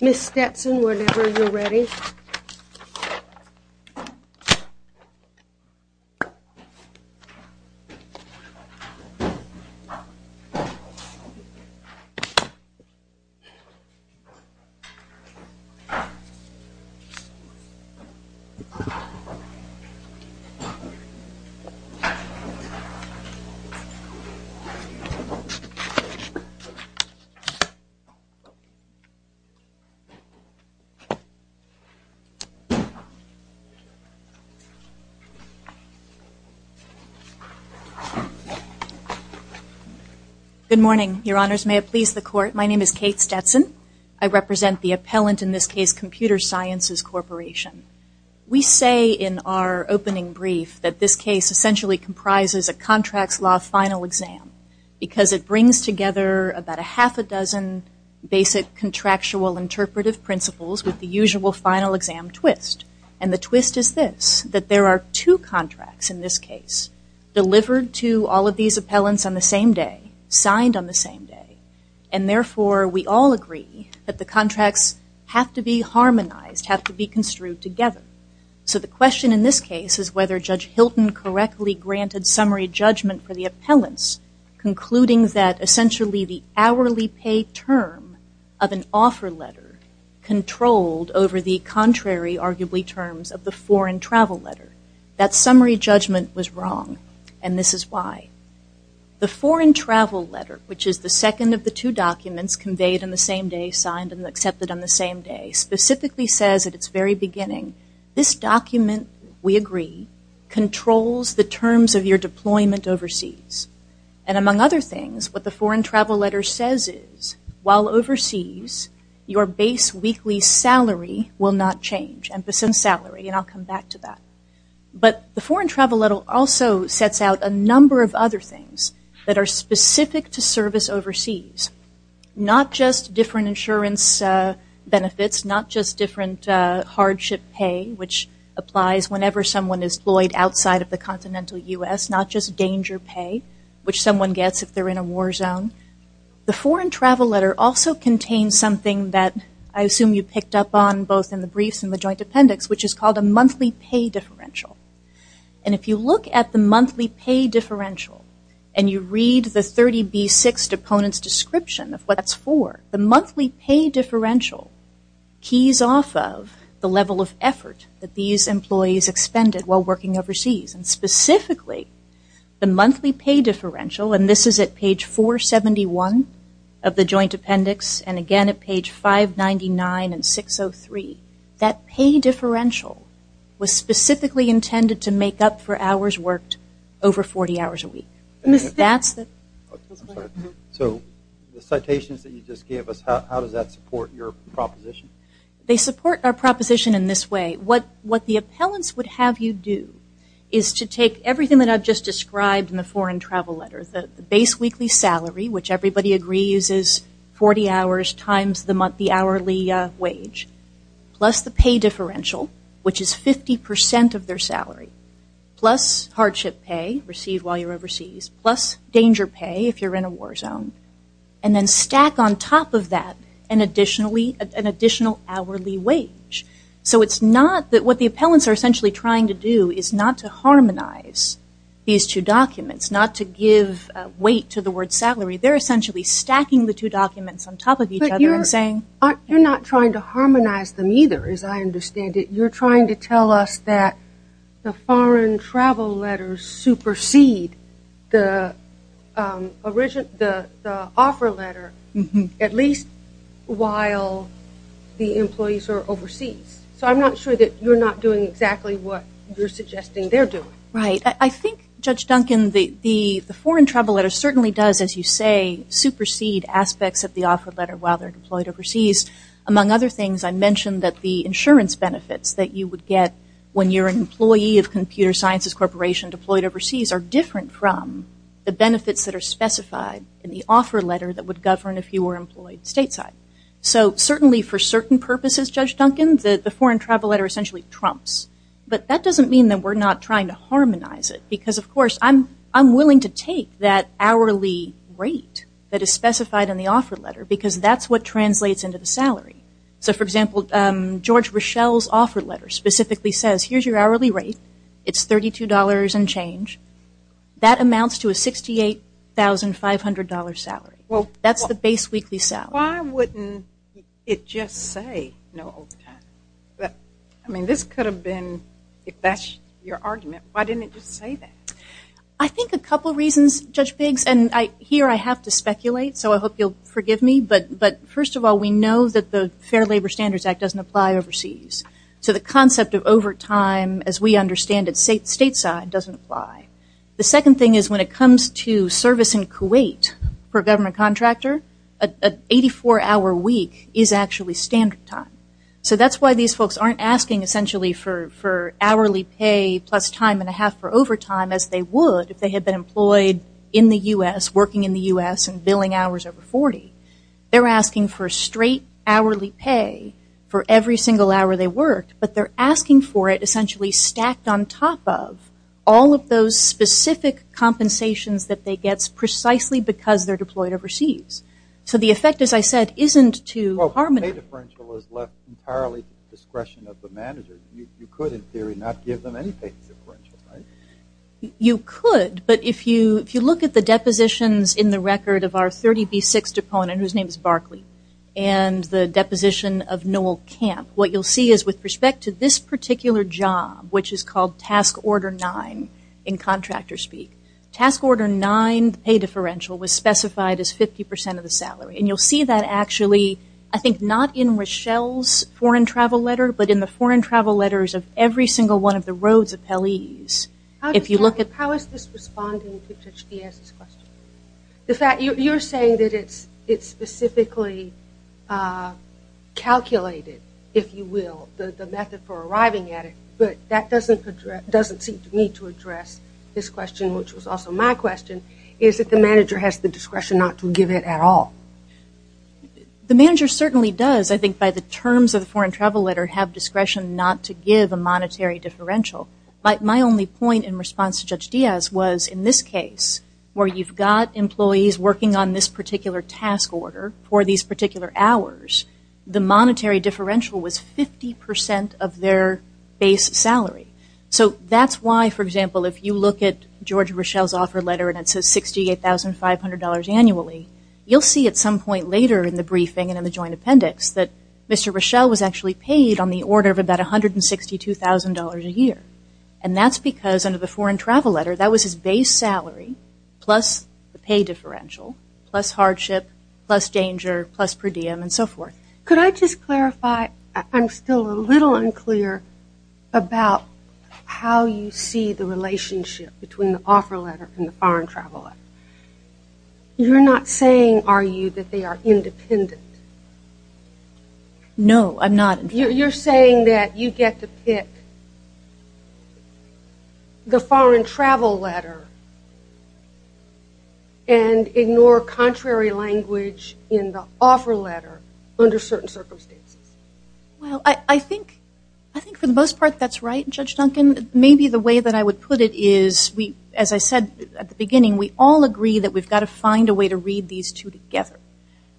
Ms. Stetson, whenever you're ready. Ms. Stetson Good morning, your honors. May it please the court, my name is Kate Stetson. I represent the appellant in this case, Computer Sciences Corporation. We say in our opening brief that this case essentially comprises a contracts law final exam because it brings together about a half a dozen basic contractual interpretive principles with the usual final exam twist. And the twist is this, that there are two contracts in this case delivered to all of these appellants on the same day, signed on the same day, and therefore we all agree that the contracts have to be harmonized, have to be construed together. So the question in this case is whether Judge Hilton correctly granted summary judgment for the appellants concluding that essentially the hourly paid term of an offer letter controlled over the contrary arguably terms of the foreign travel letter. That summary judgment was wrong, and this is why. The foreign travel letter, which is the second of the two documents conveyed on the same day, signed and accepted on the same day, specifically says at its very beginning, this document, we agree, controls the term of your deployment overseas. And among other things, what the foreign travel letter says is while overseas, your base weekly salary will not change, and I'll come back to that. But the foreign travel letter also sets out a number of other things that are specific to service overseas, not just different insurance benefits, not just different hardship pay, which applies whenever someone is deployed outside of the continental U.S., not just danger pay, which someone gets if they're in a war zone. The foreign travel letter also contains something that I assume you picked up on both in the briefs and the joint appendix, which is called a monthly pay differential. And if you look at the monthly pay differential and you read the 30B6 deponent's description of what that's for, the monthly pay differential keys off of the level of effort that these employees expended while working overseas. And specifically, the monthly pay differential, and this is at page 471 of the joint appendix and, again, at page 599 and 603, that pay differential was specifically intended to make up for hours worked over 40 hours a week. That's the... I'm sorry. So the citations that you just gave us, how does that support your proposition? They support our proposition in this way. What the appellants would have you do is to take everything that I've just described in the foreign travel letter, the base weekly salary, which everybody agrees is 40 hours times the hourly wage, plus the pay differential, which is 50% of their salary, plus hardship pay received while you're overseas, plus danger pay if you're in a war zone, and then stack on top of that an additional hourly wage. So it's not that what the appellants are essentially trying to do is not to harmonize these two documents, not to give weight to the word salary. They're essentially stacking the two documents on top of each other and saying... You're trying to tell us that the foreign travel letters supersede the offer letter at least while the employees are overseas. So I'm not sure that you're not doing exactly what you're suggesting they're doing. Right. I think, Judge Duncan, the foreign travel letter certainly does, as you say, supersede aspects of the offer letter while they're deployed overseas. Among other things, I mentioned that the insurance benefits that you would get when you're an employee of Computer Sciences Corporation deployed overseas are different from the benefits that are specified in the offer letter that would govern if you were employed stateside. So certainly for certain purposes, Judge Duncan, the foreign travel letter essentially trumps. But that doesn't mean that we're not trying to harmonize it because, of course, I'm willing to take that hourly rate that is specified in the offer letter because that's what translates into the salary. So, for example, George Richel's offer letter specifically says, here's your hourly rate. It's $32 and change. That amounts to a $68,500 salary. That's the base weekly salary. Well, why wouldn't it just say no overtime? I mean, this could have been, if that's your argument, why didn't it just say that? I think a couple reasons, Judge Biggs, and here I have to speculate, so I hope you'll forgive me, but first of all, we know that the Fair Labor Standards Act doesn't apply overseas. So the concept of overtime, as we understand it stateside, doesn't apply. The second thing is when it comes to service in Kuwait per government contractor, an 84-hour week is actually standard time. So that's why these folks aren't asking essentially for hourly pay plus time and a half for overtime as they would if they had been employed in the U.S. and billing hours over 40. They're asking for straight hourly pay for every single hour they worked, but they're asking for it essentially stacked on top of all of those specific compensations that they get precisely because they're deployed overseas. So the effect, as I said, isn't too harmonious. Well, pay differential is left entirely to the discretion of the manager. You could, in theory, not give them any pay differential, right? You could, but if you look at the depositions in the record of our 30B6 deponent, whose name is Barkley, and the deposition of Noel Camp, what you'll see is with respect to this particular job, which is called Task Order 9 in contractor speak, Task Order 9 pay differential was specified as 50 percent of the salary. And you'll see that actually, I think not in Rochelle's foreign travel letter, but in the foreign travel letters of every single one of the Rhodes appellees. How is this responding to Judge Diaz's question? You're saying that it's specifically calculated, if you will, the method for arriving at it, but that doesn't seem to me to address this question, which was also my question. Is it the manager has the discretion not to give it at all? The manager certainly does, I think, by the terms of the foreign travel letter, have discretion not to give a monetary differential. But my only point in response to Judge Diaz was, in this case, where you've got employees working on this particular task order for these particular hours, the monetary differential was 50 percent of their base salary. So that's why, for example, if you look at George Rochelle's offer letter and it says $68,500 annually, you'll see at some point later in the briefing and in the joint appendix that Mr. Rochelle was actually on the order of about $162,000 a year. And that's because under the foreign travel letter, that was his base salary plus the pay differential, plus hardship, plus danger, plus per diem and so forth. Could I just clarify? I'm still a little unclear about how you see the relationship between the offer letter and the foreign travel letter. You're not saying, are you, that they are independent? No, I'm not. You're saying that you get to pick the foreign travel letter and ignore contrary language in the offer letter under certain circumstances. Well, I think for the most part that's right, Judge Duncan. Maybe the way that I would put it is, as I said at the beginning, we all agree that we've got to find a way to read these two together.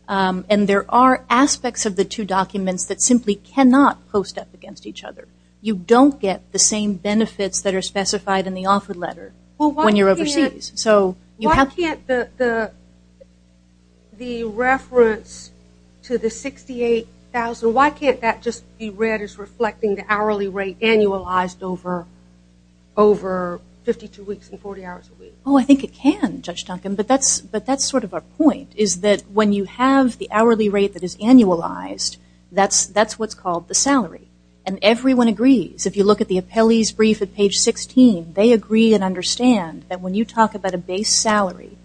And there are aspects of the two documents that simply cannot post up against each other. You don't get the same benefits that are specified in the offer letter when you're overseas. So why can't the reference to the $68,000, why can't that just be read as reflecting the hourly rate annualized over 52 weeks and 40 hours a week? Oh, I think it can, Judge Duncan. But that's sort of our point, is that when you have the hourly rate that is annualized, that's what's called the salary. And everyone agrees. If you look at the appellee's brief at page 16, they agree and understand that when you talk about a base salary,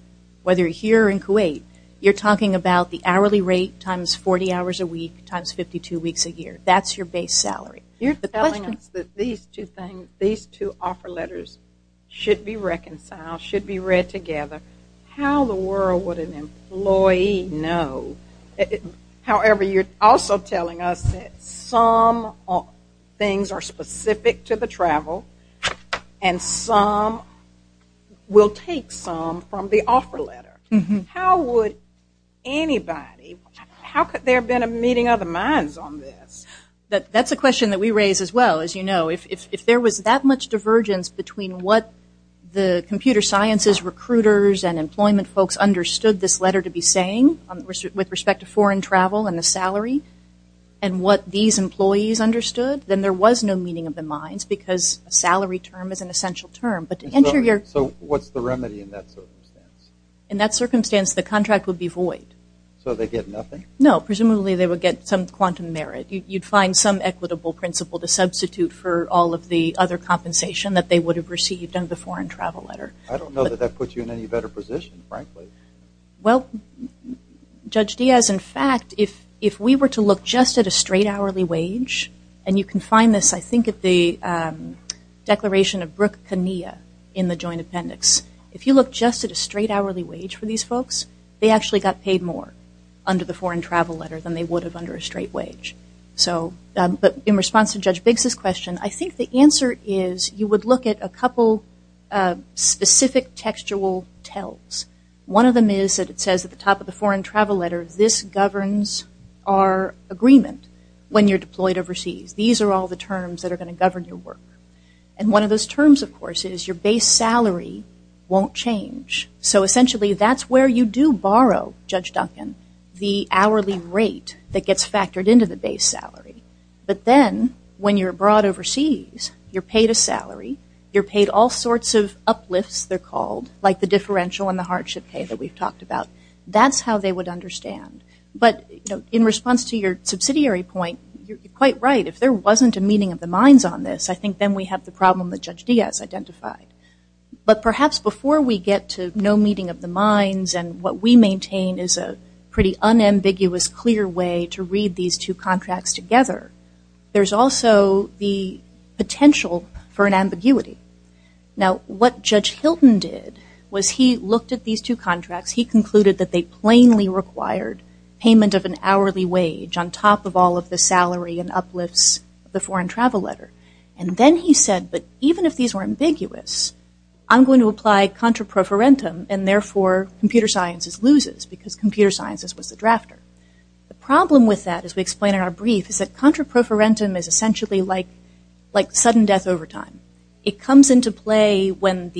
whether you're here or in Kuwait, you're talking about the hourly rate times 40 hours a week times 52 weeks a year. That's your base salary. You're telling us that these two things, these two offer letters should be reconciled, should be read together. How in the world would an employee know? However, you're also telling us that some things are specific to the travel and some will take some from the offer letter. How would anybody, how could there have been a meeting of the minds on this? That's a question that we raise as well, as you know. If there was that much divergence between what the computer sciences recruiters and employment folks understood this letter to be saying with respect to foreign travel and the salary, and what these employees understood, then there was no meeting of the minds because a salary term is an essential term. So what's the remedy in that circumstance? In that circumstance, the contract would be void. So they get nothing? No. Presumably they would get some quantum merit. You'd find some equitable principle to substitute for all of the other compensation that they would have received under the foreign travel letter. I don't know that that puts you in any better position, frankly. Well, Judge Diaz, in fact, if we were to look just at a straight hourly wage, and you can find this, I think, at the declaration of Brooke Kania in the joint appendix. If you look just at a straight hourly wage for these folks, they actually got paid more under the foreign travel letter than they would have under a straight wage. So but in response to Judge Biggs' question, I think the answer is you would look at a couple specific textual tells. One of them is that it says at the top of the foreign travel letter, this governs our agreement when you're deployed overseas. These are all the terms that are going to govern your work. And one of those terms, of course, is your base salary won't change. So essentially that's where you do borrow, Judge Duncan, the hourly rate that gets factored into the base salary. But then when you're brought overseas, you're paid a salary. You're paid all sorts of uplifts, they're called, like the differential and the hardship pay that we've talked about. That's how they would understand. But in response to your subsidiary point, you're quite right. If there wasn't a meeting of the minds on this, I think then we have the problem that Judge Diaz identified. But perhaps before we get to no meeting of the minds and what we maintain is a pretty unambiguous clear way to read these two contracts together, there's also the potential for an ambiguity. Now what Judge Hilton did was he looked at these two contracts. He concluded that they plainly required payment of an hourly wage on top of all of the salary and uplifts of the foreign travel letter. And then he said, but even if these were ambiguous, I'm going to apply contra proferentum and therefore computer sciences loses because computer sciences was the drafter. The problem with that, as we explain in our brief, is that contra proferentum is essentially like sudden death over time. It comes into play when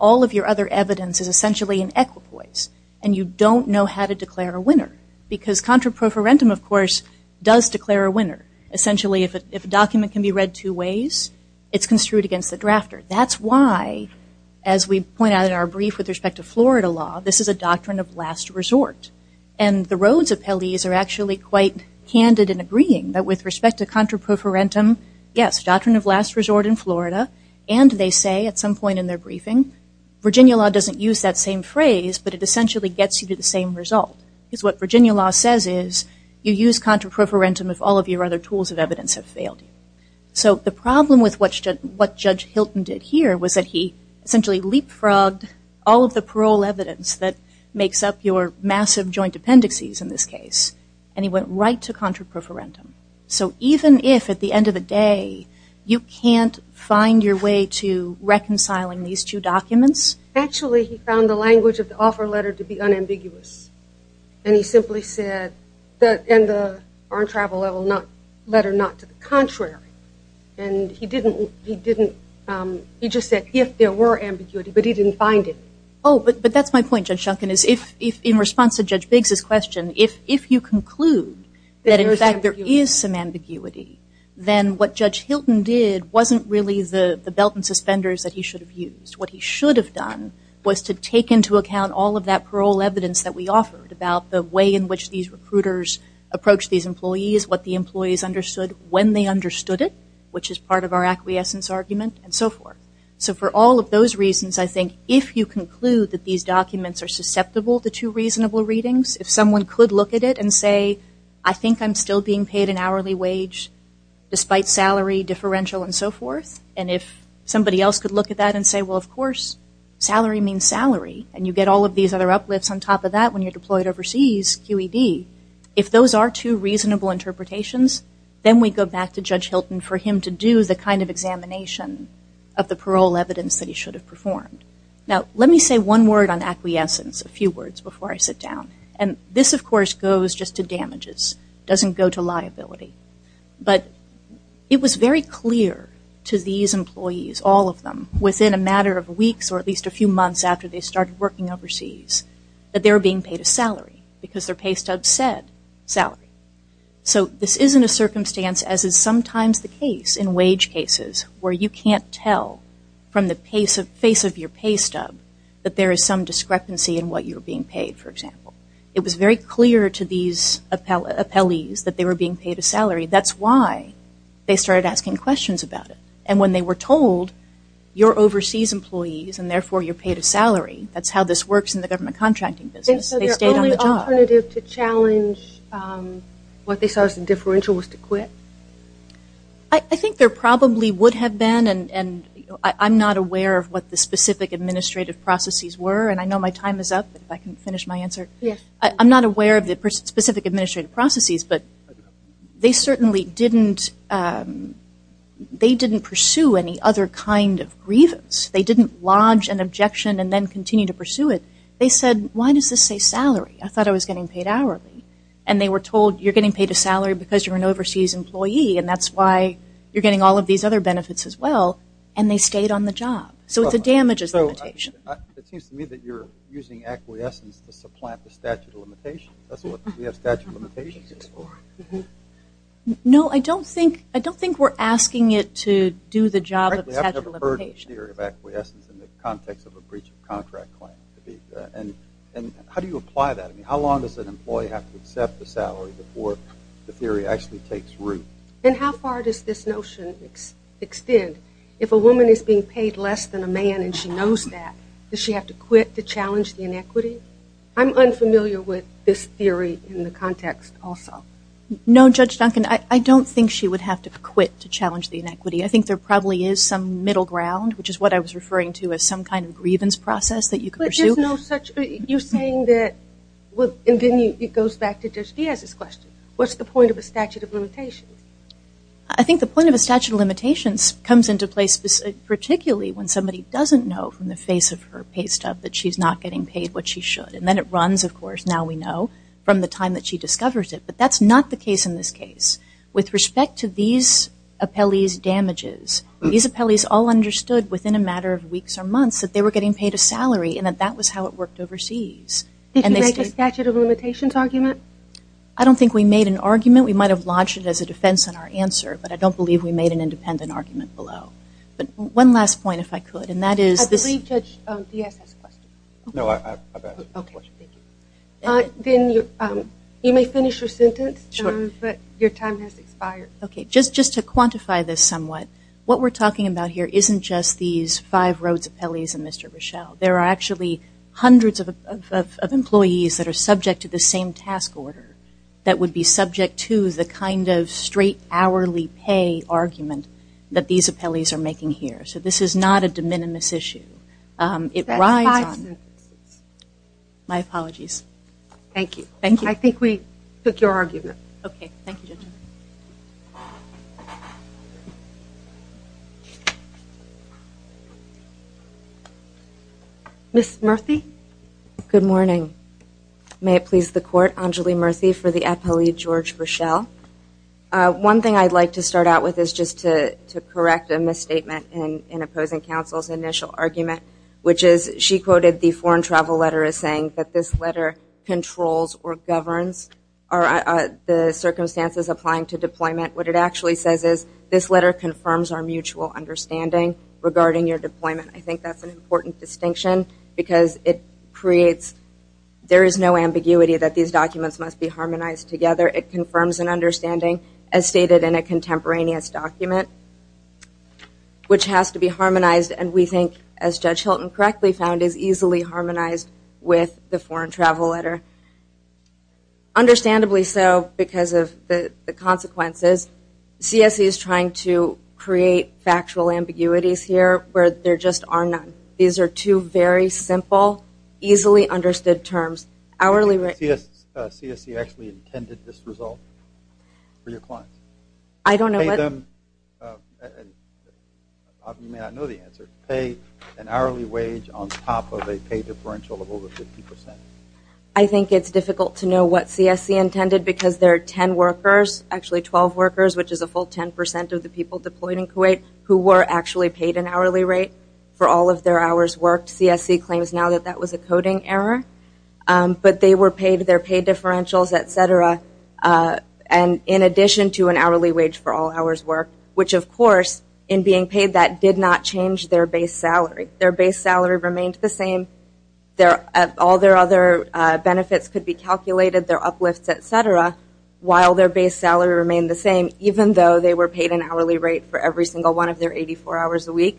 all of your other evidence is essentially an equipoise and you don't know how to declare a winner. Because contra proferentum, of course, does declare a winner. Essentially if a document can be read two ways, it's construed against the drafter. That's why, as we point out in our brief with respect to Florida law, this is a doctrine of last resort. And the Rhodes appellees are actually quite candid in agreeing that with respect to contra proferentum, yes, doctrine of last resort in Florida, and they say at some point in their briefing, Virginia law doesn't use that same phrase, but it essentially gets you to the same result. Because what Virginia law says is, you use contra proferentum if all of your other tools of evidence have failed you. So the problem with what Judge Hilton did here was that he essentially leapfrogged all of the parole evidence that makes up your massive joint appendices in this case, and he went right to contra proferentum. So even if at the end of the day you can't find your way to reconciling these two documents. Actually he found the language of the offer letter to be unambiguous. And he simply said the armed travel letter not to the contrary. And he didn't, he just said if there were ambiguity, but he didn't find it. Oh, but that's my point, Judge Shunkin, is if in response to Judge Biggs' question, if you conclude that in fact there is some ambiguity, then what Judge Hilton did wasn't really the belt and suspenders that he should have used. What he should have done was to take into account how these recruiters approached these employees, what the employees understood when they understood it, which is part of our acquiescence argument, and so forth. So for all of those reasons, I think if you conclude that these documents are susceptible to two reasonable readings, if someone could look at it and say, I think I'm still being paid an hourly wage despite salary differential and so forth, and if somebody else could look at that and say, well, of course, salary means salary, and you get all of these other uplifts on top of that when you're deployed overseas, QED, if those are two reasonable interpretations, then we go back to Judge Hilton for him to do the kind of examination of the parole evidence that he should have performed. Now let me say one word on acquiescence, a few words before I sit down. And this, of course, goes just to damages, doesn't go to liability. But it was very clear to these employees, all of them, within a matter of weeks or at least a few months after they were being paid a salary because their pay stub said salary. So this isn't a circumstance as is sometimes the case in wage cases where you can't tell from the face of your pay stub that there is some discrepancy in what you're being paid, for example. It was very clear to these appellees that they were being paid a salary. That's why they started asking questions about it. And when they were told, you're overseas employees and therefore you're paid a salary, that's how this works in the government contracting business, they stayed on the job. They said their only alternative to challenge what they saw as a differential was to quit? I think there probably would have been. And I'm not aware of what the specific administrative processes were. And I know my time is up, if I can finish my answer. I'm not aware of the specific administrative processes. But they certainly didn't pursue any other kind of grievance. They didn't lodge an objection and then continue to pursue it. They said, why does this say salary? I thought I was getting paid hourly. And they were told, you're getting paid a salary because you're an overseas employee and that's why you're getting all of these other benefits as well. And they stayed on the job. So it's a damages limitation. It seems to me that you're using acquiescence to supplant the statute of limitations. That's what we have statute of limitations for. No, I don't think we're asking it to do the job of the statute of limitations. I've never heard the theory of acquiescence in the context of a breach of contract claim. And how do you apply that? I mean, how long does an employee have to accept the salary before the theory actually takes root? And how far does this notion extend? If a woman is being paid less than a man and she knows that, does she have to quit to challenge the inequity? I'm unfamiliar with this theory in the context also. No, Judge Duncan, I don't think she would have to quit to challenge the inequity. I think there probably is some middle ground, which is what I was referring to as some kind of grievance process that you could pursue. But there's no such, you're saying that, and then it goes back to Judge Diaz's question, what's the point of a statute of limitations? I think the point of a statute of limitations comes into place particularly when somebody doesn't know from the face of her pay stub that she's not getting paid what she should. And then it runs, of course, now we know, from the time that she discovers it. But that's not the case in this case. With respect to these appellees' damages, these appellees all understood within a matter of weeks or months that they were getting paid a salary and that that was how it worked overseas. Did you make a statute of limitations argument? I don't think we made an argument. We might have lodged it as a defense in our answer, but I don't believe we made an independent argument below. But one last point, if I could, and that is this I believe Judge Diaz has a question. No, I've asked a question. Okay, thank you. You may finish your sentence, but your time has expired. Okay, just to quantify this somewhat, what we're talking about here isn't just these five Rhodes appellees and Mr. Rochelle. There are actually hundreds of employees that are subject to the same task order that would be subject to the kind of straight hourly pay argument that these appellees are making here. So this is not a de minimis issue. It rides on... That's five sentences. My apologies. Thank you. Thank you. I think we took your argument. Okay, thank you, Judge Diaz. Ms. Murthy? Good morning. May it please the Court, Anjali Murthy for the appellee George Rochelle. One thing I'd like to start out with is just to correct a misstatement in opposing counsel's initial argument, which is she quoted the foreign travel letter as saying that this letter controls or governs the circumstances applying to deployment. What it actually says is this letter confirms our mutual understanding regarding your deployment. I think that's an important distinction because it creates... There is no ambiguity that these terms and understanding as stated in a contemporaneous document, which has to be harmonized and we think as Judge Hilton correctly found is easily harmonized with the foreign travel letter. Understandably so because of the consequences. CSE is trying to create factual ambiguities here where there just are none. These are two very simple, easily understood terms. Hourly rate... CSE actually intended this result for your clients? I don't know what... You may not know the answer. Pay an hourly wage on top of a pay differential of over 50%. I think it's difficult to know what CSE intended because there are 10 workers, actually 12 workers, which is a full 10% of the people deployed in Kuwait who were actually paid an hourly rate for all of their hours worked. CSE claims now that that was a coding error, but they were paid their pay differentials, et cetera, in addition to an hourly wage for all hours worked, which of course in being paid that did not change their base salary. Their base salary remained the same. All their other benefits could be calculated, their uplifts, et cetera, while their base salary remained the same even though they were paid an hourly rate for every single one of their 84 hours a week.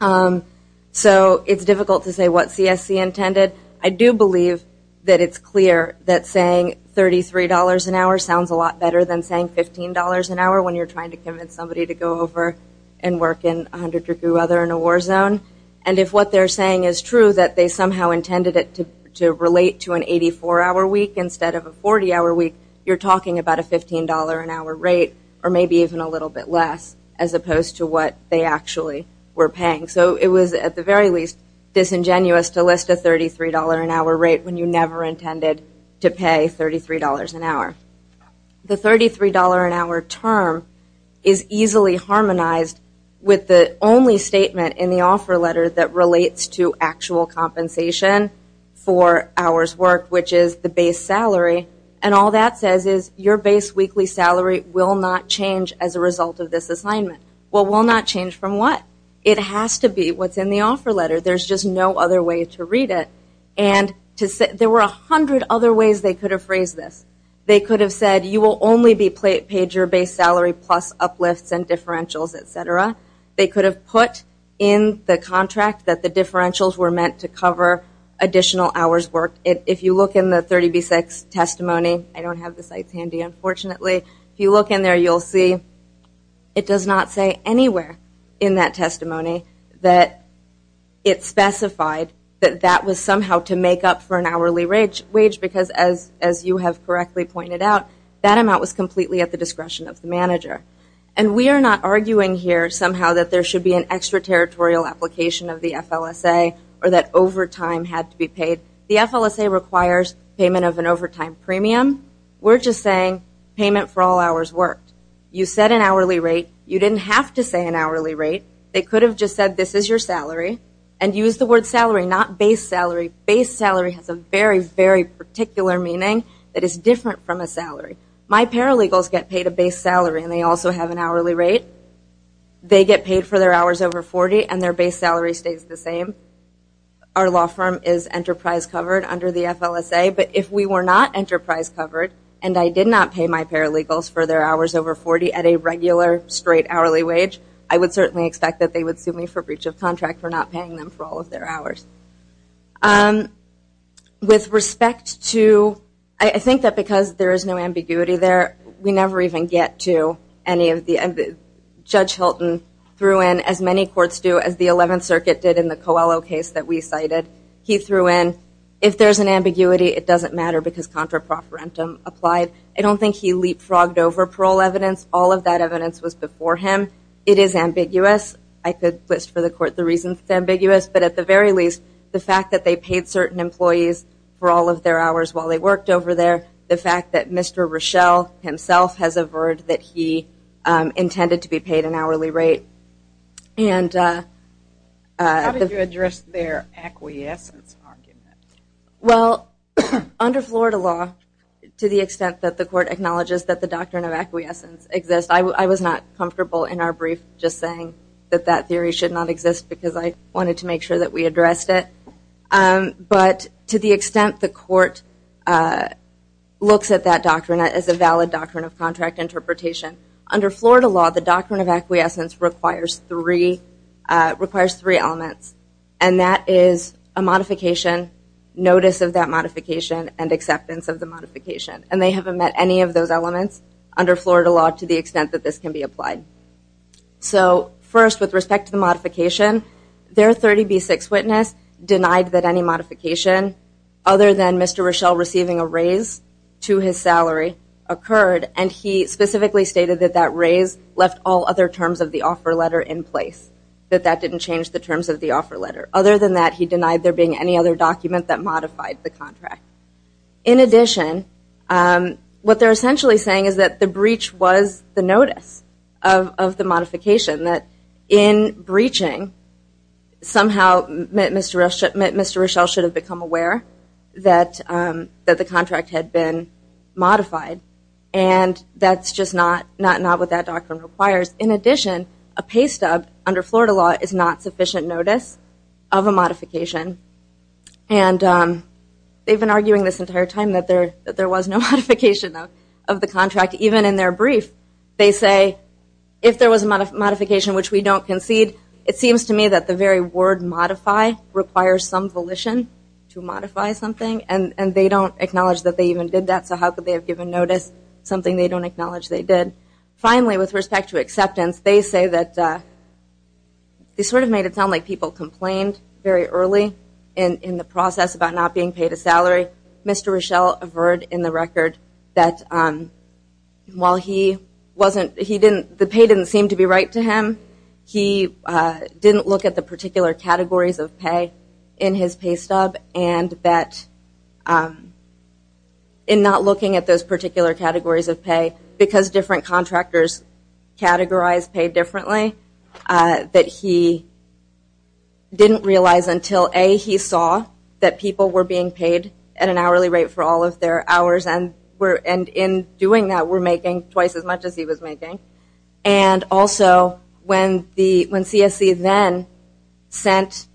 It's difficult to say what CSE intended. I do believe that it's clear that saying $33 an hour sounds a lot better than saying $15 an hour when you're trying to convince somebody to go over and work in 100 degree weather in a war zone. If what they're saying is true, that they somehow intended it to relate to an 84 hour week instead of a 40 hour week, you're talking about a $15 an hour rate or maybe even a little bit less as opposed to what they actually were paying. So it was at the very least disingenuous to list a $33 an hour rate when you never intended to pay $33 an hour. The $33 an hour term is easily harmonized with the only statement in the offer letter that relates to actual compensation for hours worked, which is the base salary, and all that says is your base weekly salary will not change as a result of this assignment. Well, it will not change from what? It has to be what's in the offer letter. There's just no other way to read it. There were 100 other ways they could have phrased this. They could have said you will only be paid your base salary plus uplifts and differentials, et cetera. They could have put in the contract that the differentials were meant to cover additional hours worked. If you look in the 30B6 testimony, I don't have the sites handy, unfortunately. If you look in there, you'll see it does not say anywhere in that testimony that it specified that that was somehow to make up for an hourly wage because as you have correctly pointed out, that amount was completely at the discretion of the manager. And we are not arguing here somehow that there had to be paid. The FLSA requires payment of an overtime premium. We're just saying payment for all hours worked. You set an hourly rate. You didn't have to say an hourly rate. They could have just said this is your salary and used the word salary, not base salary. Base salary has a very, very particular meaning that is different from a salary. My paralegals get paid a base salary and they also have an hourly rate. They get paid for their hours over 40 and their base salary stays the same. Our law firm is enterprise covered under the FLSA, but if we were not enterprise covered and I did not pay my paralegals for their hours over 40 at a regular straight hourly wage, I would certainly expect that they would sue me for breach of contract for not paying them for all of their hours. With respect to, I think that because there is no ambiguity there, we never even get to any of the, Judge Hilton threw in as many courts do as the 11th Circuit did in the Coelho case that we cited. He threw in, if there's an ambiguity, it doesn't matter because contra proferentum applied. I don't think he leapfrogged over parole evidence. All of that evidence was before him. It is ambiguous. I could list for the court the reasons it's ambiguous, but at the very least, the fact that they paid certain employees for all of their hours while they worked over there, the fact that Mr. Rochelle himself has averred that he intended to be paid an hourly rate. How did you address their acquiescence argument? Well, under Florida law, to the extent that the court acknowledges that the doctrine of acquiescence exists, I was not comfortable in our brief just saying that that theory should not exist because I wanted to make sure that we addressed it. But to the extent the court looks at that doctrine as a valid doctrine of contract interpretation, under Florida law, the doctrine of acquiescence requires three elements, and that is a modification, notice of that modification, and acceptance of the modification. And they haven't met any of those elements under Florida law to the extent that this can be applied. So, first, with respect to the modification, their 30B6 witness denied that any modification other than Mr. Rochelle receiving a raise to his salary occurred, and he specifically stated that that raise left all other terms of the offer letter in place, that that didn't change the terms of the offer letter. Other than that, he denied there being any other document that modified the contract. In addition, what they're essentially saying is that the breach was the notice of the modification, that in breaching, somehow Mr. Rochelle should have become aware that the contract had been modified. And that's just not what that doctrine requires. In addition, a pay stub under Florida law is not sufficient notice of a modification. And they've been arguing this entire time that there was no modification of the contract, even in their brief. They say, if there was a modification which we don't concede, it seems to me that the very word modify requires some volition to modify something, and they don't acknowledge that they even did that, so how could they have given notice, something they don't acknowledge they did. Finally, with respect to acceptance, they say that they sort of made it sound like people complained very early in the process about not being paid a salary. Mr. Rochelle averred in the record that while he wasn't, he didn't, the pay didn't seem to be right to him. He didn't look at the particular categories of pay in his pay stub, and that in not looking at those particular categories of pay, because different contractors categorized pay differently, that he didn't realize until, A, he saw that people were being paid at an hourly rate for all of their hours, and in doing that, were making twice as much as he was making. And also, when CSC then sent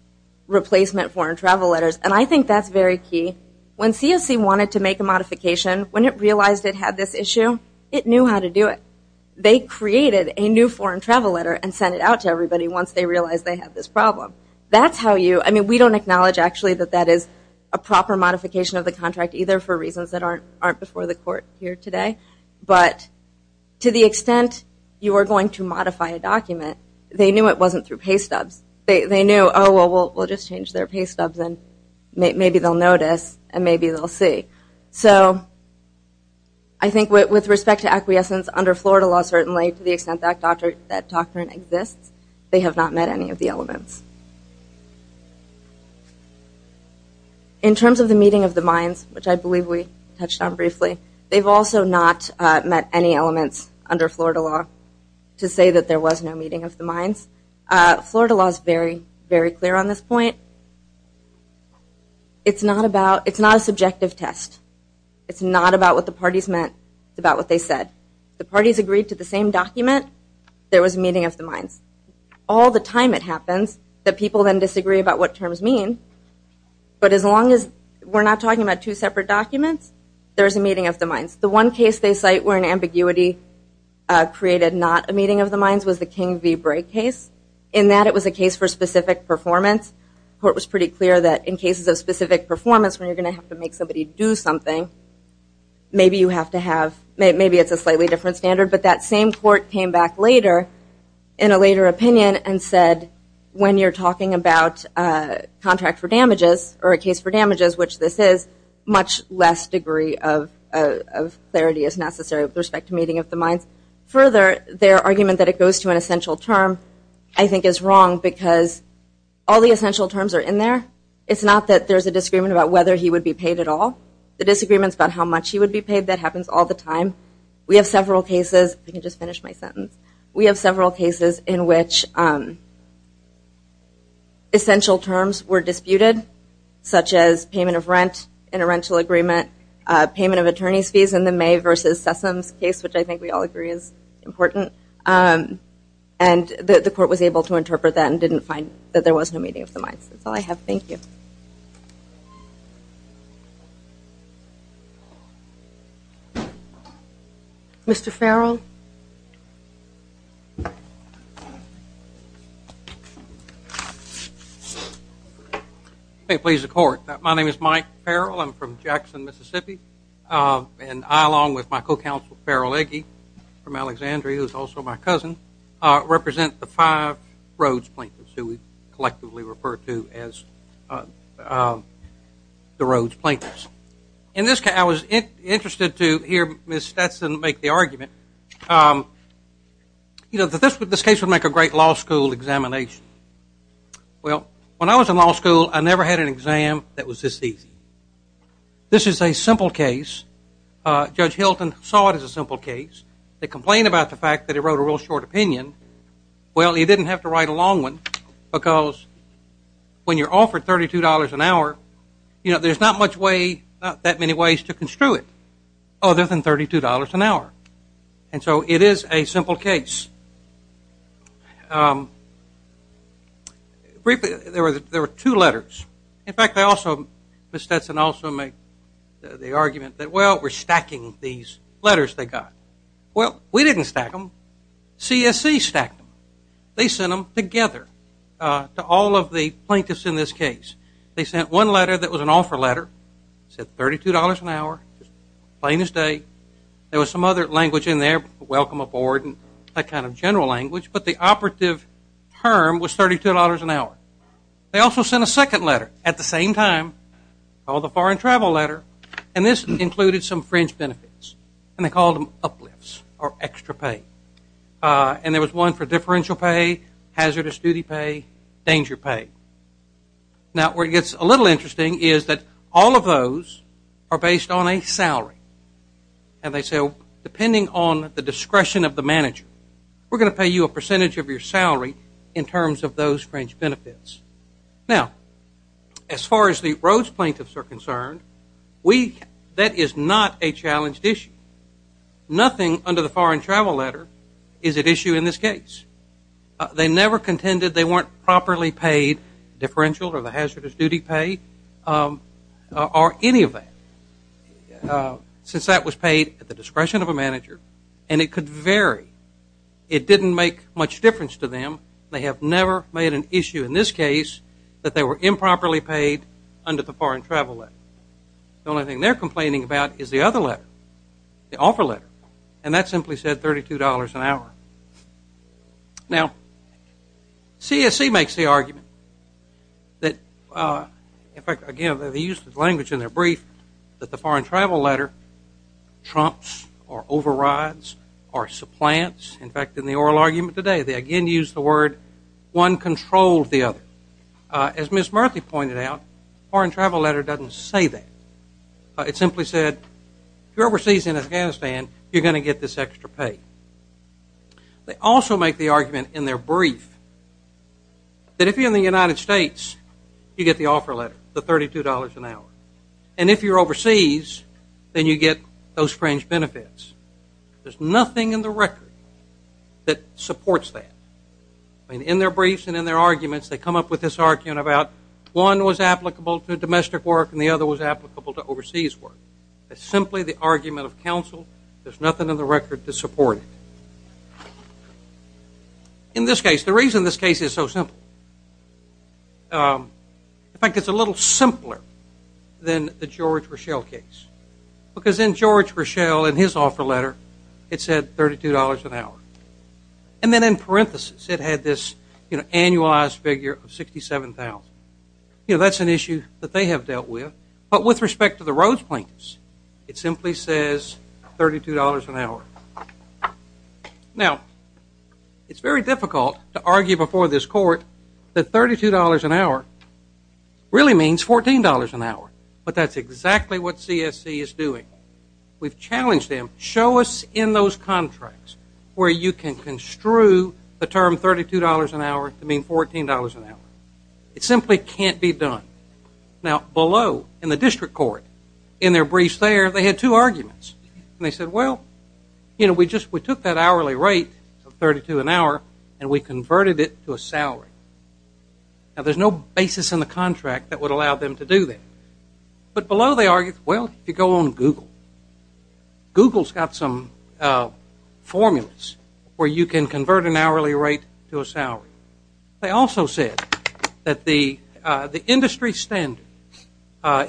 replacement foreign travel letters, and I think that's very key, when CSC wanted to make a modification, when it realized it had this issue, it knew how to do it. They created a new foreign travel letter and sent it out to everybody once they realized they had this problem. That's how you, I mean, we don't acknowledge, actually, that that is a proper modification of the contract either for reasons that aren't before the court here today, but to the extent you are going to modify a document, they knew it wasn't through pay stubs. They knew, oh, well, we'll just change their pay stubs, and maybe they'll notice, and maybe they'll see. So I think with respect to acquiescence under Florida law, certainly, to the extent that doctrine exists, they have not met any of the elements. In terms of the meeting of the minds, which I believe we touched on briefly, they've also not met any elements under Florida law to say that there was no meeting of the minds. Florida law is very, very clear on this point. It's not about, it's not a subjective test. It's not about what the parties meant. It's about what they said. The parties agreed to the same document, there was a meeting of the minds. All the time it happens that people then disagree about what terms mean, but as long as we're not talking about two separate documents, there's a meeting of the minds. The one case they cite where an ambiguity created not a meeting of the minds was the King v. Bray case, in that it was a case for it was pretty clear that in cases of specific performance, when you're going to have to make somebody do something, maybe you have to have, maybe it's a slightly different standard, but that same court came back later, in a later opinion, and said, when you're talking about contract for damages or a case for damages, which this is, much less degree of clarity is necessary with respect to meeting of the minds. Further, their argument that it goes to an essential term, I think, is wrong because all the essential terms are in there. It's not that there's a disagreement about whether he would be paid at all. The disagreement is about how much he would be paid, that happens all the time. We have several cases, if I can just finish my sentence, we have several cases in which essential terms were disputed, such as payment of rent in a rental agreement, payment of attorney's fees in the May v. Sessoms case, which I think we all agree is important, and the court was able to interpret that and didn't find that there was no meeting of the minds. That's all I have. Thank you. Mr. Farrell? If it pleases the court, my name is Mike Farrell, I'm from Jackson, Mississippi, and I, along with my co-counsel Farrell Egge, from Alexandria, who is also my cousin, represent the five Rhodes Plaintiffs, who we collectively refer to as the Rhodes Plaintiffs. In this case, I was interested to hear Ms. Stetson make the argument, you know, that this case would make a great law school examination. Well, when I was in law school, I never had an exam that was this easy. This is a simple case. Judge Hilton saw it as a simple case. They complained about the fact that he wrote a real short opinion. Well, he didn't have to write a long one, because when you're offered $32 an hour, you know, there's not much way, not that many ways to construe it, other than $32 an hour. And so it is a simple case. Briefly, there were two letters. In fact, they also, Ms. Stetson also made the argument that, well, we're stacking these letters they got. Well, we didn't stack them. CSC stacked them. They sent them together to all of the plaintiffs in this case. They sent one letter that was an offer letter, said $32 an hour, plain as day. There was some other language in there, welcome aboard, and that kind of general language, but the operative term was $32 an hour. They also sent a second letter at the same time, called the foreign travel letter, and this included some fringe benefits. And they called them uplifts or extra pay. And there was one for differential pay, hazardous duty pay, danger pay. Now, where it gets a little interesting is that all of those are based on a salary. And they say, well, depending on the discretion of the manager, we're going to pay you a percentage of your salary in terms of those fringe benefits. Now, as far as the Rhodes plaintiffs are concerned, that is not a challenged issue. Nothing under the foreign travel letter is at issue in this case. They never contended they weren't properly paid differential or the hazardous duty pay or any of that, since that was paid at the discretion of a manager, and it could vary. It didn't make much difference to them. They have never made an issue in this case that they were improperly paid under the foreign travel letter. The only thing they're complaining about is the other letter, the offer letter, and that simply said $32 an hour. Now, CSE makes the argument that, in fact, again, they used the language in their brief that the foreign travel letter trumps or overrides or supplants. In fact, in the oral argument today, they again used the word one controlled the other. As Ms. Murthy pointed out, foreign travel letter doesn't say that. It simply said, if you're overseas in Afghanistan, you're going to get this extra pay. They also make the argument in their brief that if you're in the United States, you get the offer letter, the $32 an hour, and if you're overseas, then you get those fringe benefits. There's nothing in the record that supports that. In their briefs and in their briefs, one was applicable to domestic work and the other was applicable to overseas work. It's simply the argument of counsel. There's nothing in the record to support it. In this case, the reason this case is so simple, in fact, it's a little simpler than the George Rochelle case because in George Rochelle, in his offer letter, it said $32 an hour. And then in parenthesis, it had this, you know, annualized figure of 67,000. You know, that's an issue that they have dealt with. But with respect to the Rhodes plaintiffs, it simply says $32 an hour. Now it's very difficult to argue before this court that $32 an hour really means $14 an hour, but that's exactly what CSC is doing. We've challenged them, show us in those contracts where you can construe the term $32 an hour to mean $14 an hour. It simply can't be done. Now, below, in the district court, in their briefs there, they had two arguments. And they said, well, you know, we just took that hourly rate of $32 an hour and we converted it to a salary. Now, there's no basis in the contract that would allow them to do that. But below they argued, well, you go on Google. Google's got some formulas where you can convert an hourly rate to a salary. They also said that the industry standard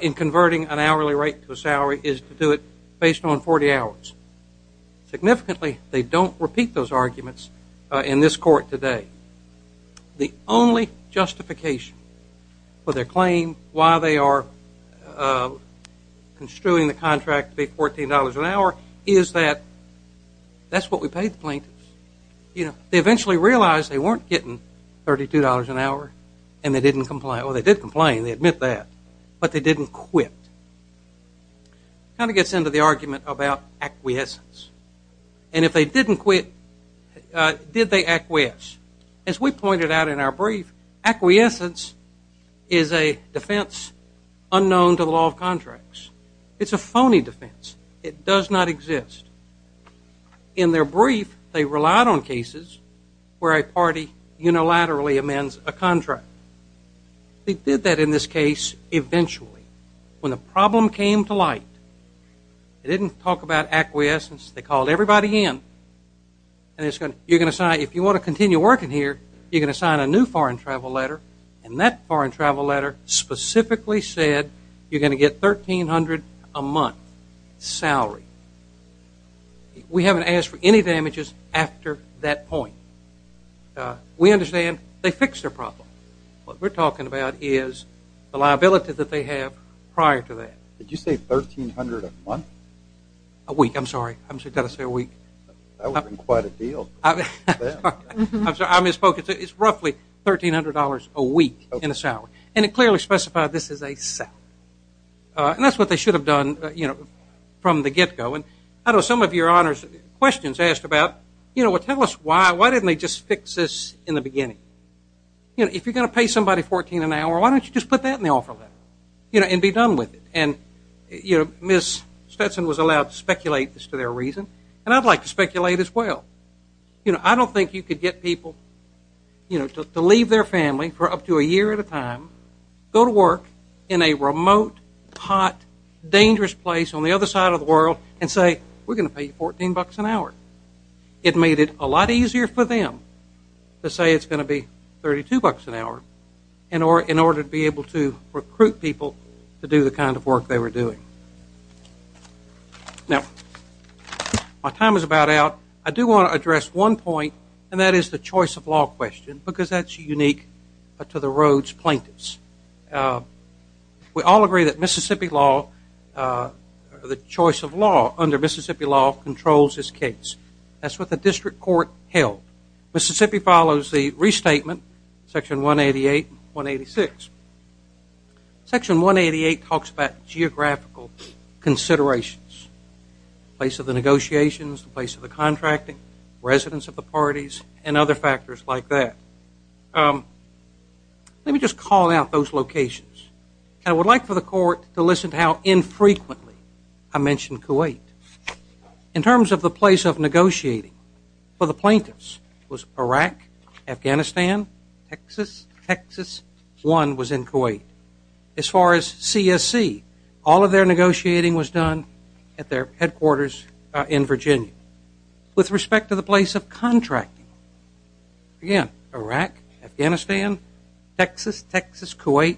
in converting an hourly rate to a salary is to do it based on 40 hours. Significantly, they don't repeat those arguments in this court today. The only justification for their claim, why they are construing the contract to be $14 an hour, is that that's what we paid the plaintiffs. You know, they eventually realized they weren't getting $32 an hour and they didn't comply. Well, they did complain. They admit that. But they didn't quit. It kind of gets into the argument about acquiescence. And if they didn't quit, did they acquiesce? As we pointed out in our brief, acquiescence is a defense unknown to the law of contracts. It's a phony defense. It does not exist. In their brief, they relied on cases where a party unilaterally amends a contract. They did that in this case eventually. When the problem came to light, they didn't talk about acquiescence. They called everybody in. And you're going to sign, if you want to continue working here, you're going to sign a new foreign travel letter. And that foreign travel letter specifically said you're going to get $1,300 a month salary. We haven't asked for any damages after that point. We understand they fixed their problem. What we're talking about is the liability that they have prior to that. Did you say $1,300 a month? A week. I'm sorry. I'm sorry. Did I say a week? That would have been quite a deal. I'm sorry. I misspoke. It's roughly $1,300 a week in a salary. And it clearly specified this is a salary. And that's what they should have done from the get-go. And I know some of your questions asked about, you know, well, tell us why. Why didn't they just fix this in the beginning? You know, if you're going to pay somebody $1,400 an hour, why don't you just put that in the offer letter and be done with it? And you know, Ms. Stetson was allowed to speculate as to their reason. And I'd like to speculate as well. You know, I don't think you could get people, you know, to leave their family for up to a year at a time, go to work in a remote, hot, dangerous place on the other side of the world and say, we're going to pay you $14 an hour. It made it a lot easier for them to say it's going to be $32 an hour in order to be able to recruit people to do the kind of work they were doing. Now, my time is about out. I do want to address one point, and that is the choice of law question, because that's unique to the Rhodes plaintiffs. We all agree that Mississippi law, the choice of law under Mississippi law, controls this case. That's what the district court held. Mississippi follows the restatement, Section 188 and 186. Section 188 talks about geographical considerations, the place of the negotiations, the place of the contracting, residence of the parties, and other factors like that. Let me just call out those locations. I would like for the court to listen to how infrequently I mention Kuwait. In terms of the place of negotiating for the plaintiffs, was Iraq, Afghanistan, Texas, Texas, one was in Kuwait. As far as CSC, all of their negotiating was done at their headquarters in Virginia. With respect to the place of contracting, again, Iraq, Afghanistan, Texas, Texas, Kuwait,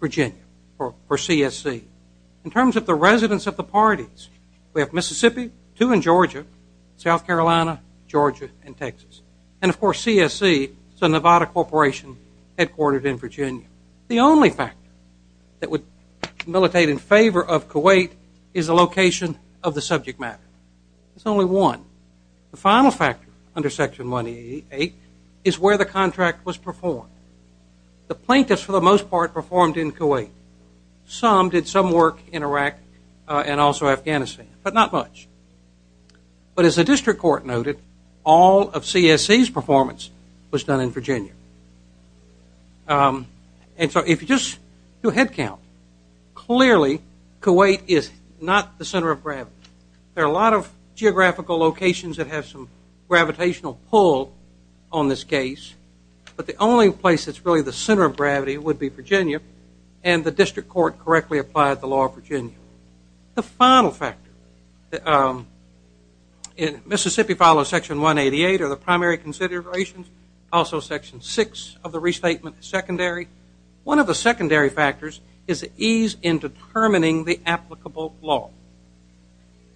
Virginia for CSC. In terms of the residence of the parties, we have Mississippi, two in Georgia, South Carolina, and CSC is a Nevada corporation headquartered in Virginia. The only factor that would militate in favor of Kuwait is the location of the subject matter. There's only one. The final factor under Section 188 is where the contract was performed. The plaintiffs, for the most part, performed in Kuwait. Some did some work in Iraq and also Afghanistan, but not much. But as the district court noted, all of CSC's performance was done in Virginia. And so if you just do a head count, clearly Kuwait is not the center of gravity. There are a lot of geographical locations that have some gravitational pull on this case, but the only place that's really the center of gravity would be Virginia, and the district court correctly applied the law of Virginia. The final factor, Mississippi follows Section 188 are the primary considerations. Also Section 6 of the restatement is secondary. One of the secondary factors is the ease in determining the applicable law.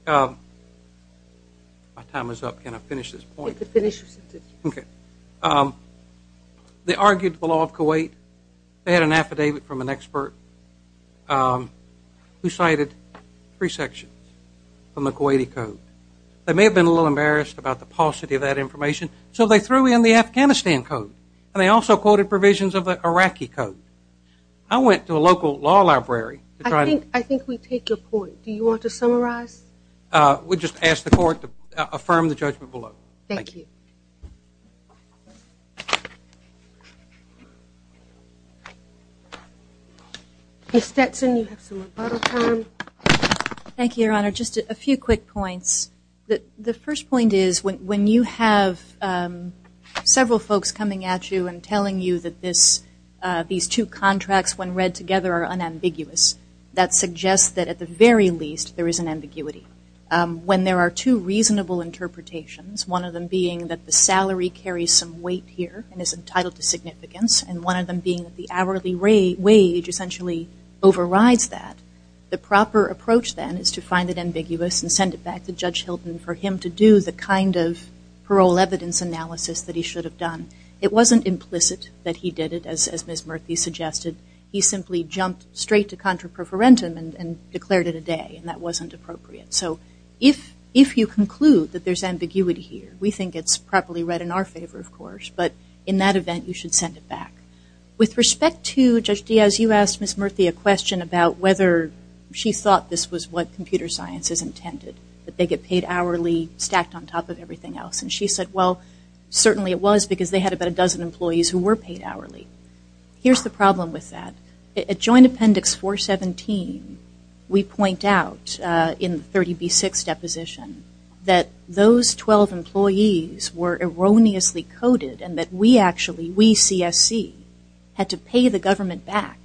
My time is up, can I finish this point? You can finish. Okay. They argued the law of Kuwait. They had an affidavit from an expert who cited three sections from the Kuwaiti Code. They may have been a little embarrassed about the paucity of that information, so they threw in the Afghanistan Code, and they also quoted provisions of the Iraqi Code. I went to a local law library to try to – I think we take your point. Do you want to summarize? We just ask the court to affirm the judgment below. Thank you. Ms. Stetson, you have some rebuttal time. Thank you, Your Honor. Just a few quick points. The first point is when you have several folks coming at you and telling you that these two contracts, when read together, are unambiguous, that suggests that at the very least there is an ambiguity. When there are two reasonable interpretations, one of them being that the salary carries some weight here and is entitled to significance, and one of them being that the hourly wage essentially overrides that, the proper approach then is to find it ambiguous and send it back to Judge Hilton for him to do the kind of parole evidence analysis that he should have done. It wasn't implicit that he did it, as Ms. Stetson said, in contra preferentum and declared it a day, and that wasn't appropriate. So if you conclude that there's ambiguity here, we think it's properly read in our favor, of course, but in that event you should send it back. With respect to Judge Diaz, you asked Ms. Murthy a question about whether she thought this was what computer science is intended, that they get paid hourly, stacked on top of everything else, and she said, well, certainly it was because they had about a dozen employees who were paid hourly. Here's the problem with that. At Joint Appendix 417, we point out in the 30B6 deposition that those 12 employees were erroneously coded and that we actually, we CSC, had to pay the government back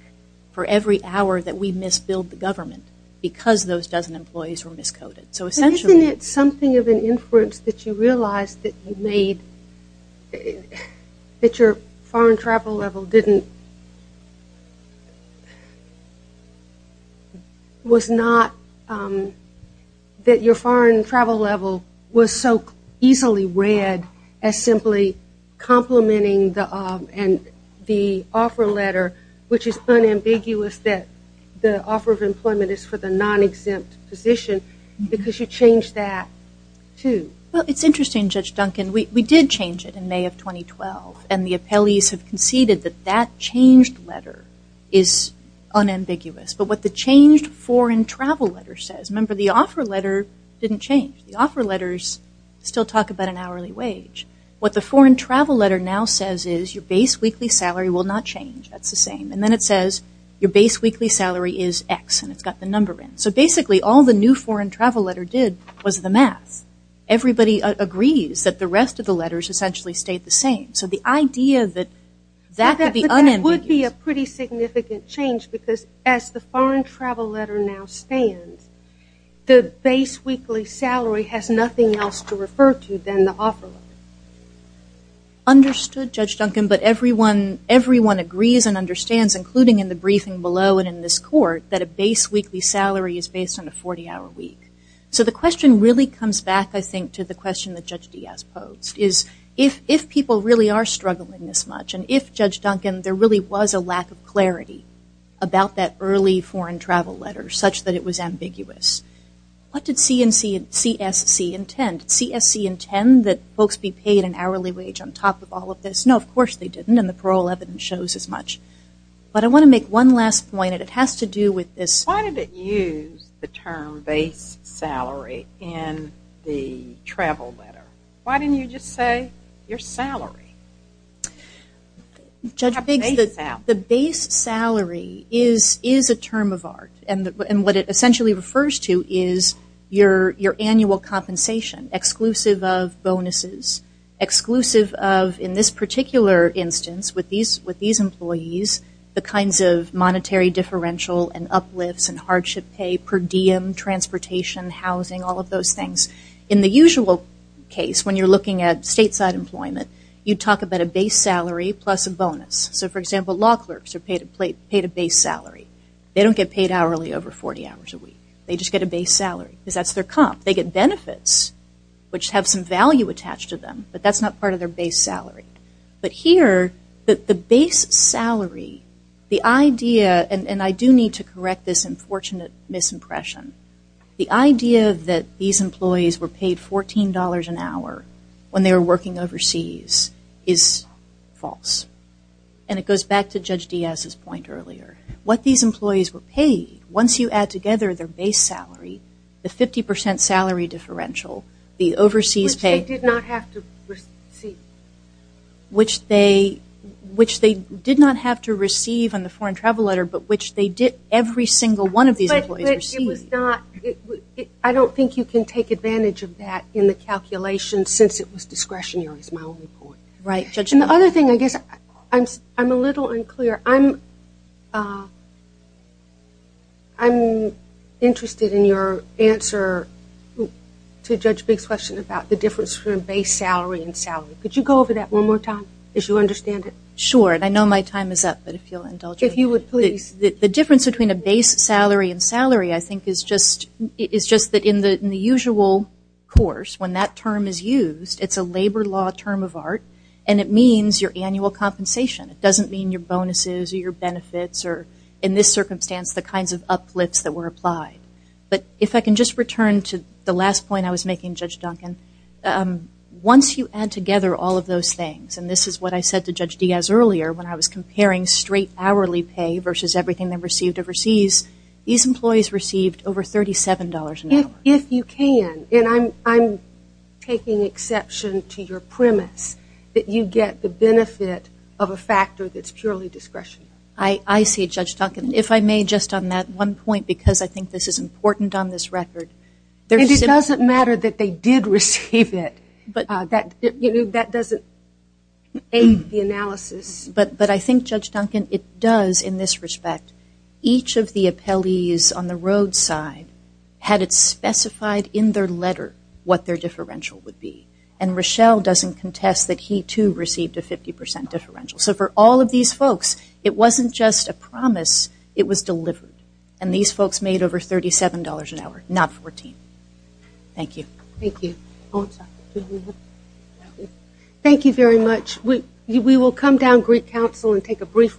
for every hour that we misbilled the government because those dozen employees were miscoded. So essentially – But isn't it something of an inference that you realized that you made, that your foreign travel level didn't, was not, that your foreign travel level was so easily read as simply complementing the, and the offer letter, which is unambiguous that the offer of employment is for the non-exempt position because you changed that, too. Well, it's interesting, Judge Duncan. We did change it in May of 2012, and the appellees have conceded that that changed letter is unambiguous, but what the changed foreign travel letter says – remember, the offer letter didn't change. The offer letters still talk about an hourly wage. What the foreign travel letter now says is, your base weekly salary will not change. That's the same. And then it says, your base weekly salary is X, and it's got the number in. So basically, all the new foreign travel letter did was the math. Everybody agrees that the unambiguous – But that would be a pretty significant change because as the foreign travel letter now stands, the base weekly salary has nothing else to refer to than the offer letter. Understood, Judge Duncan, but everyone agrees and understands, including in the briefing below and in this court, that a base weekly salary is based on a 40-hour week. So the question really comes back, I think, to the question that Judge Diaz posed, is if people really are struggling this much, and if, Judge Duncan, there really was a lack of clarity about that early foreign travel letter such that it was ambiguous, what did CSC intend? Did CSC intend that folks be paid an hourly wage on top of all of this? No, of course they didn't, and the parole evidence shows as much. But I want to make one last point, and it has to do with this – Why did it use the term base salary in the travel letter? Why didn't you just say, your salary? Judge Biggs, the base salary is a term of art, and what it essentially refers to is your annual compensation, exclusive of bonuses, exclusive of, in this particular instance with these employees, the kinds of monetary differential and uplifts and hardship pay, per diem, transportation, housing, all of those things. In the usual case, when you're looking at stateside employment, you talk about a base salary plus a bonus. So, for example, law clerks are paid a base salary. They don't get paid hourly over 40 hours a week. They just get a base salary, because that's their comp. They get benefits, which have some value attached to them, but that's not part of their base salary. But here, the base salary, the idea – and I do need to correct this unfortunate misimpression – the idea that these employees were paid $14 an hour when they were working overseas is false. And it goes back to Judge Diaz's point earlier. What these employees were paid, once you add together their base salary, the 50 percent salary differential, the overseas pay – Which they did not have to receive. Which they did not have to receive in the foreign travel letter, but which they did every single one of these employees receive. But it was not – I don't think you can take advantage of that in the calculation since it was discretionary, is my only point. Right, Judge. And the other thing, I guess, I'm a little unclear. I'm interested in your answer to Judge Biggs' question about the difference between a base salary and salary. Could you go over that one more time, as you understand it? Sure. I know my time is up, but if you'll indulge me. If you would, please. The difference between a base salary and salary, I think, is just that in the usual course, when that term is used, it's a labor law term of art, and it means your annual compensation. It doesn't mean your bonuses or your benefits or, in this circumstance, the kinds of uplifts that were applied. But if I can just return to the last point I was making, Judge Duncan, once you add together all of those things, and this is what I said to Judge Diaz earlier when I was comparing straight hourly pay versus everything they received overseas, these employees received over $37 an hour. If you can, and I'm taking exception to your premise, that you get the benefit of a factor that's purely discretionary. I see, Judge Duncan. If I may, just on that one point, because I think this is important on this record. And it doesn't matter that they did receive it. That doesn't aid the analysis. But I think, Judge Duncan, it does in this respect. Each of the appellees on the roadside had it specified in their letter what their differential would be. And Rochelle doesn't contest that he, too, received a 50 percent differential. So for all of these folks, it wasn't just a promise. It was delivered. And these folks made over $37 an hour, not $14. Thank you. Thank you very much. We will come down Greek Council and take a brief recess.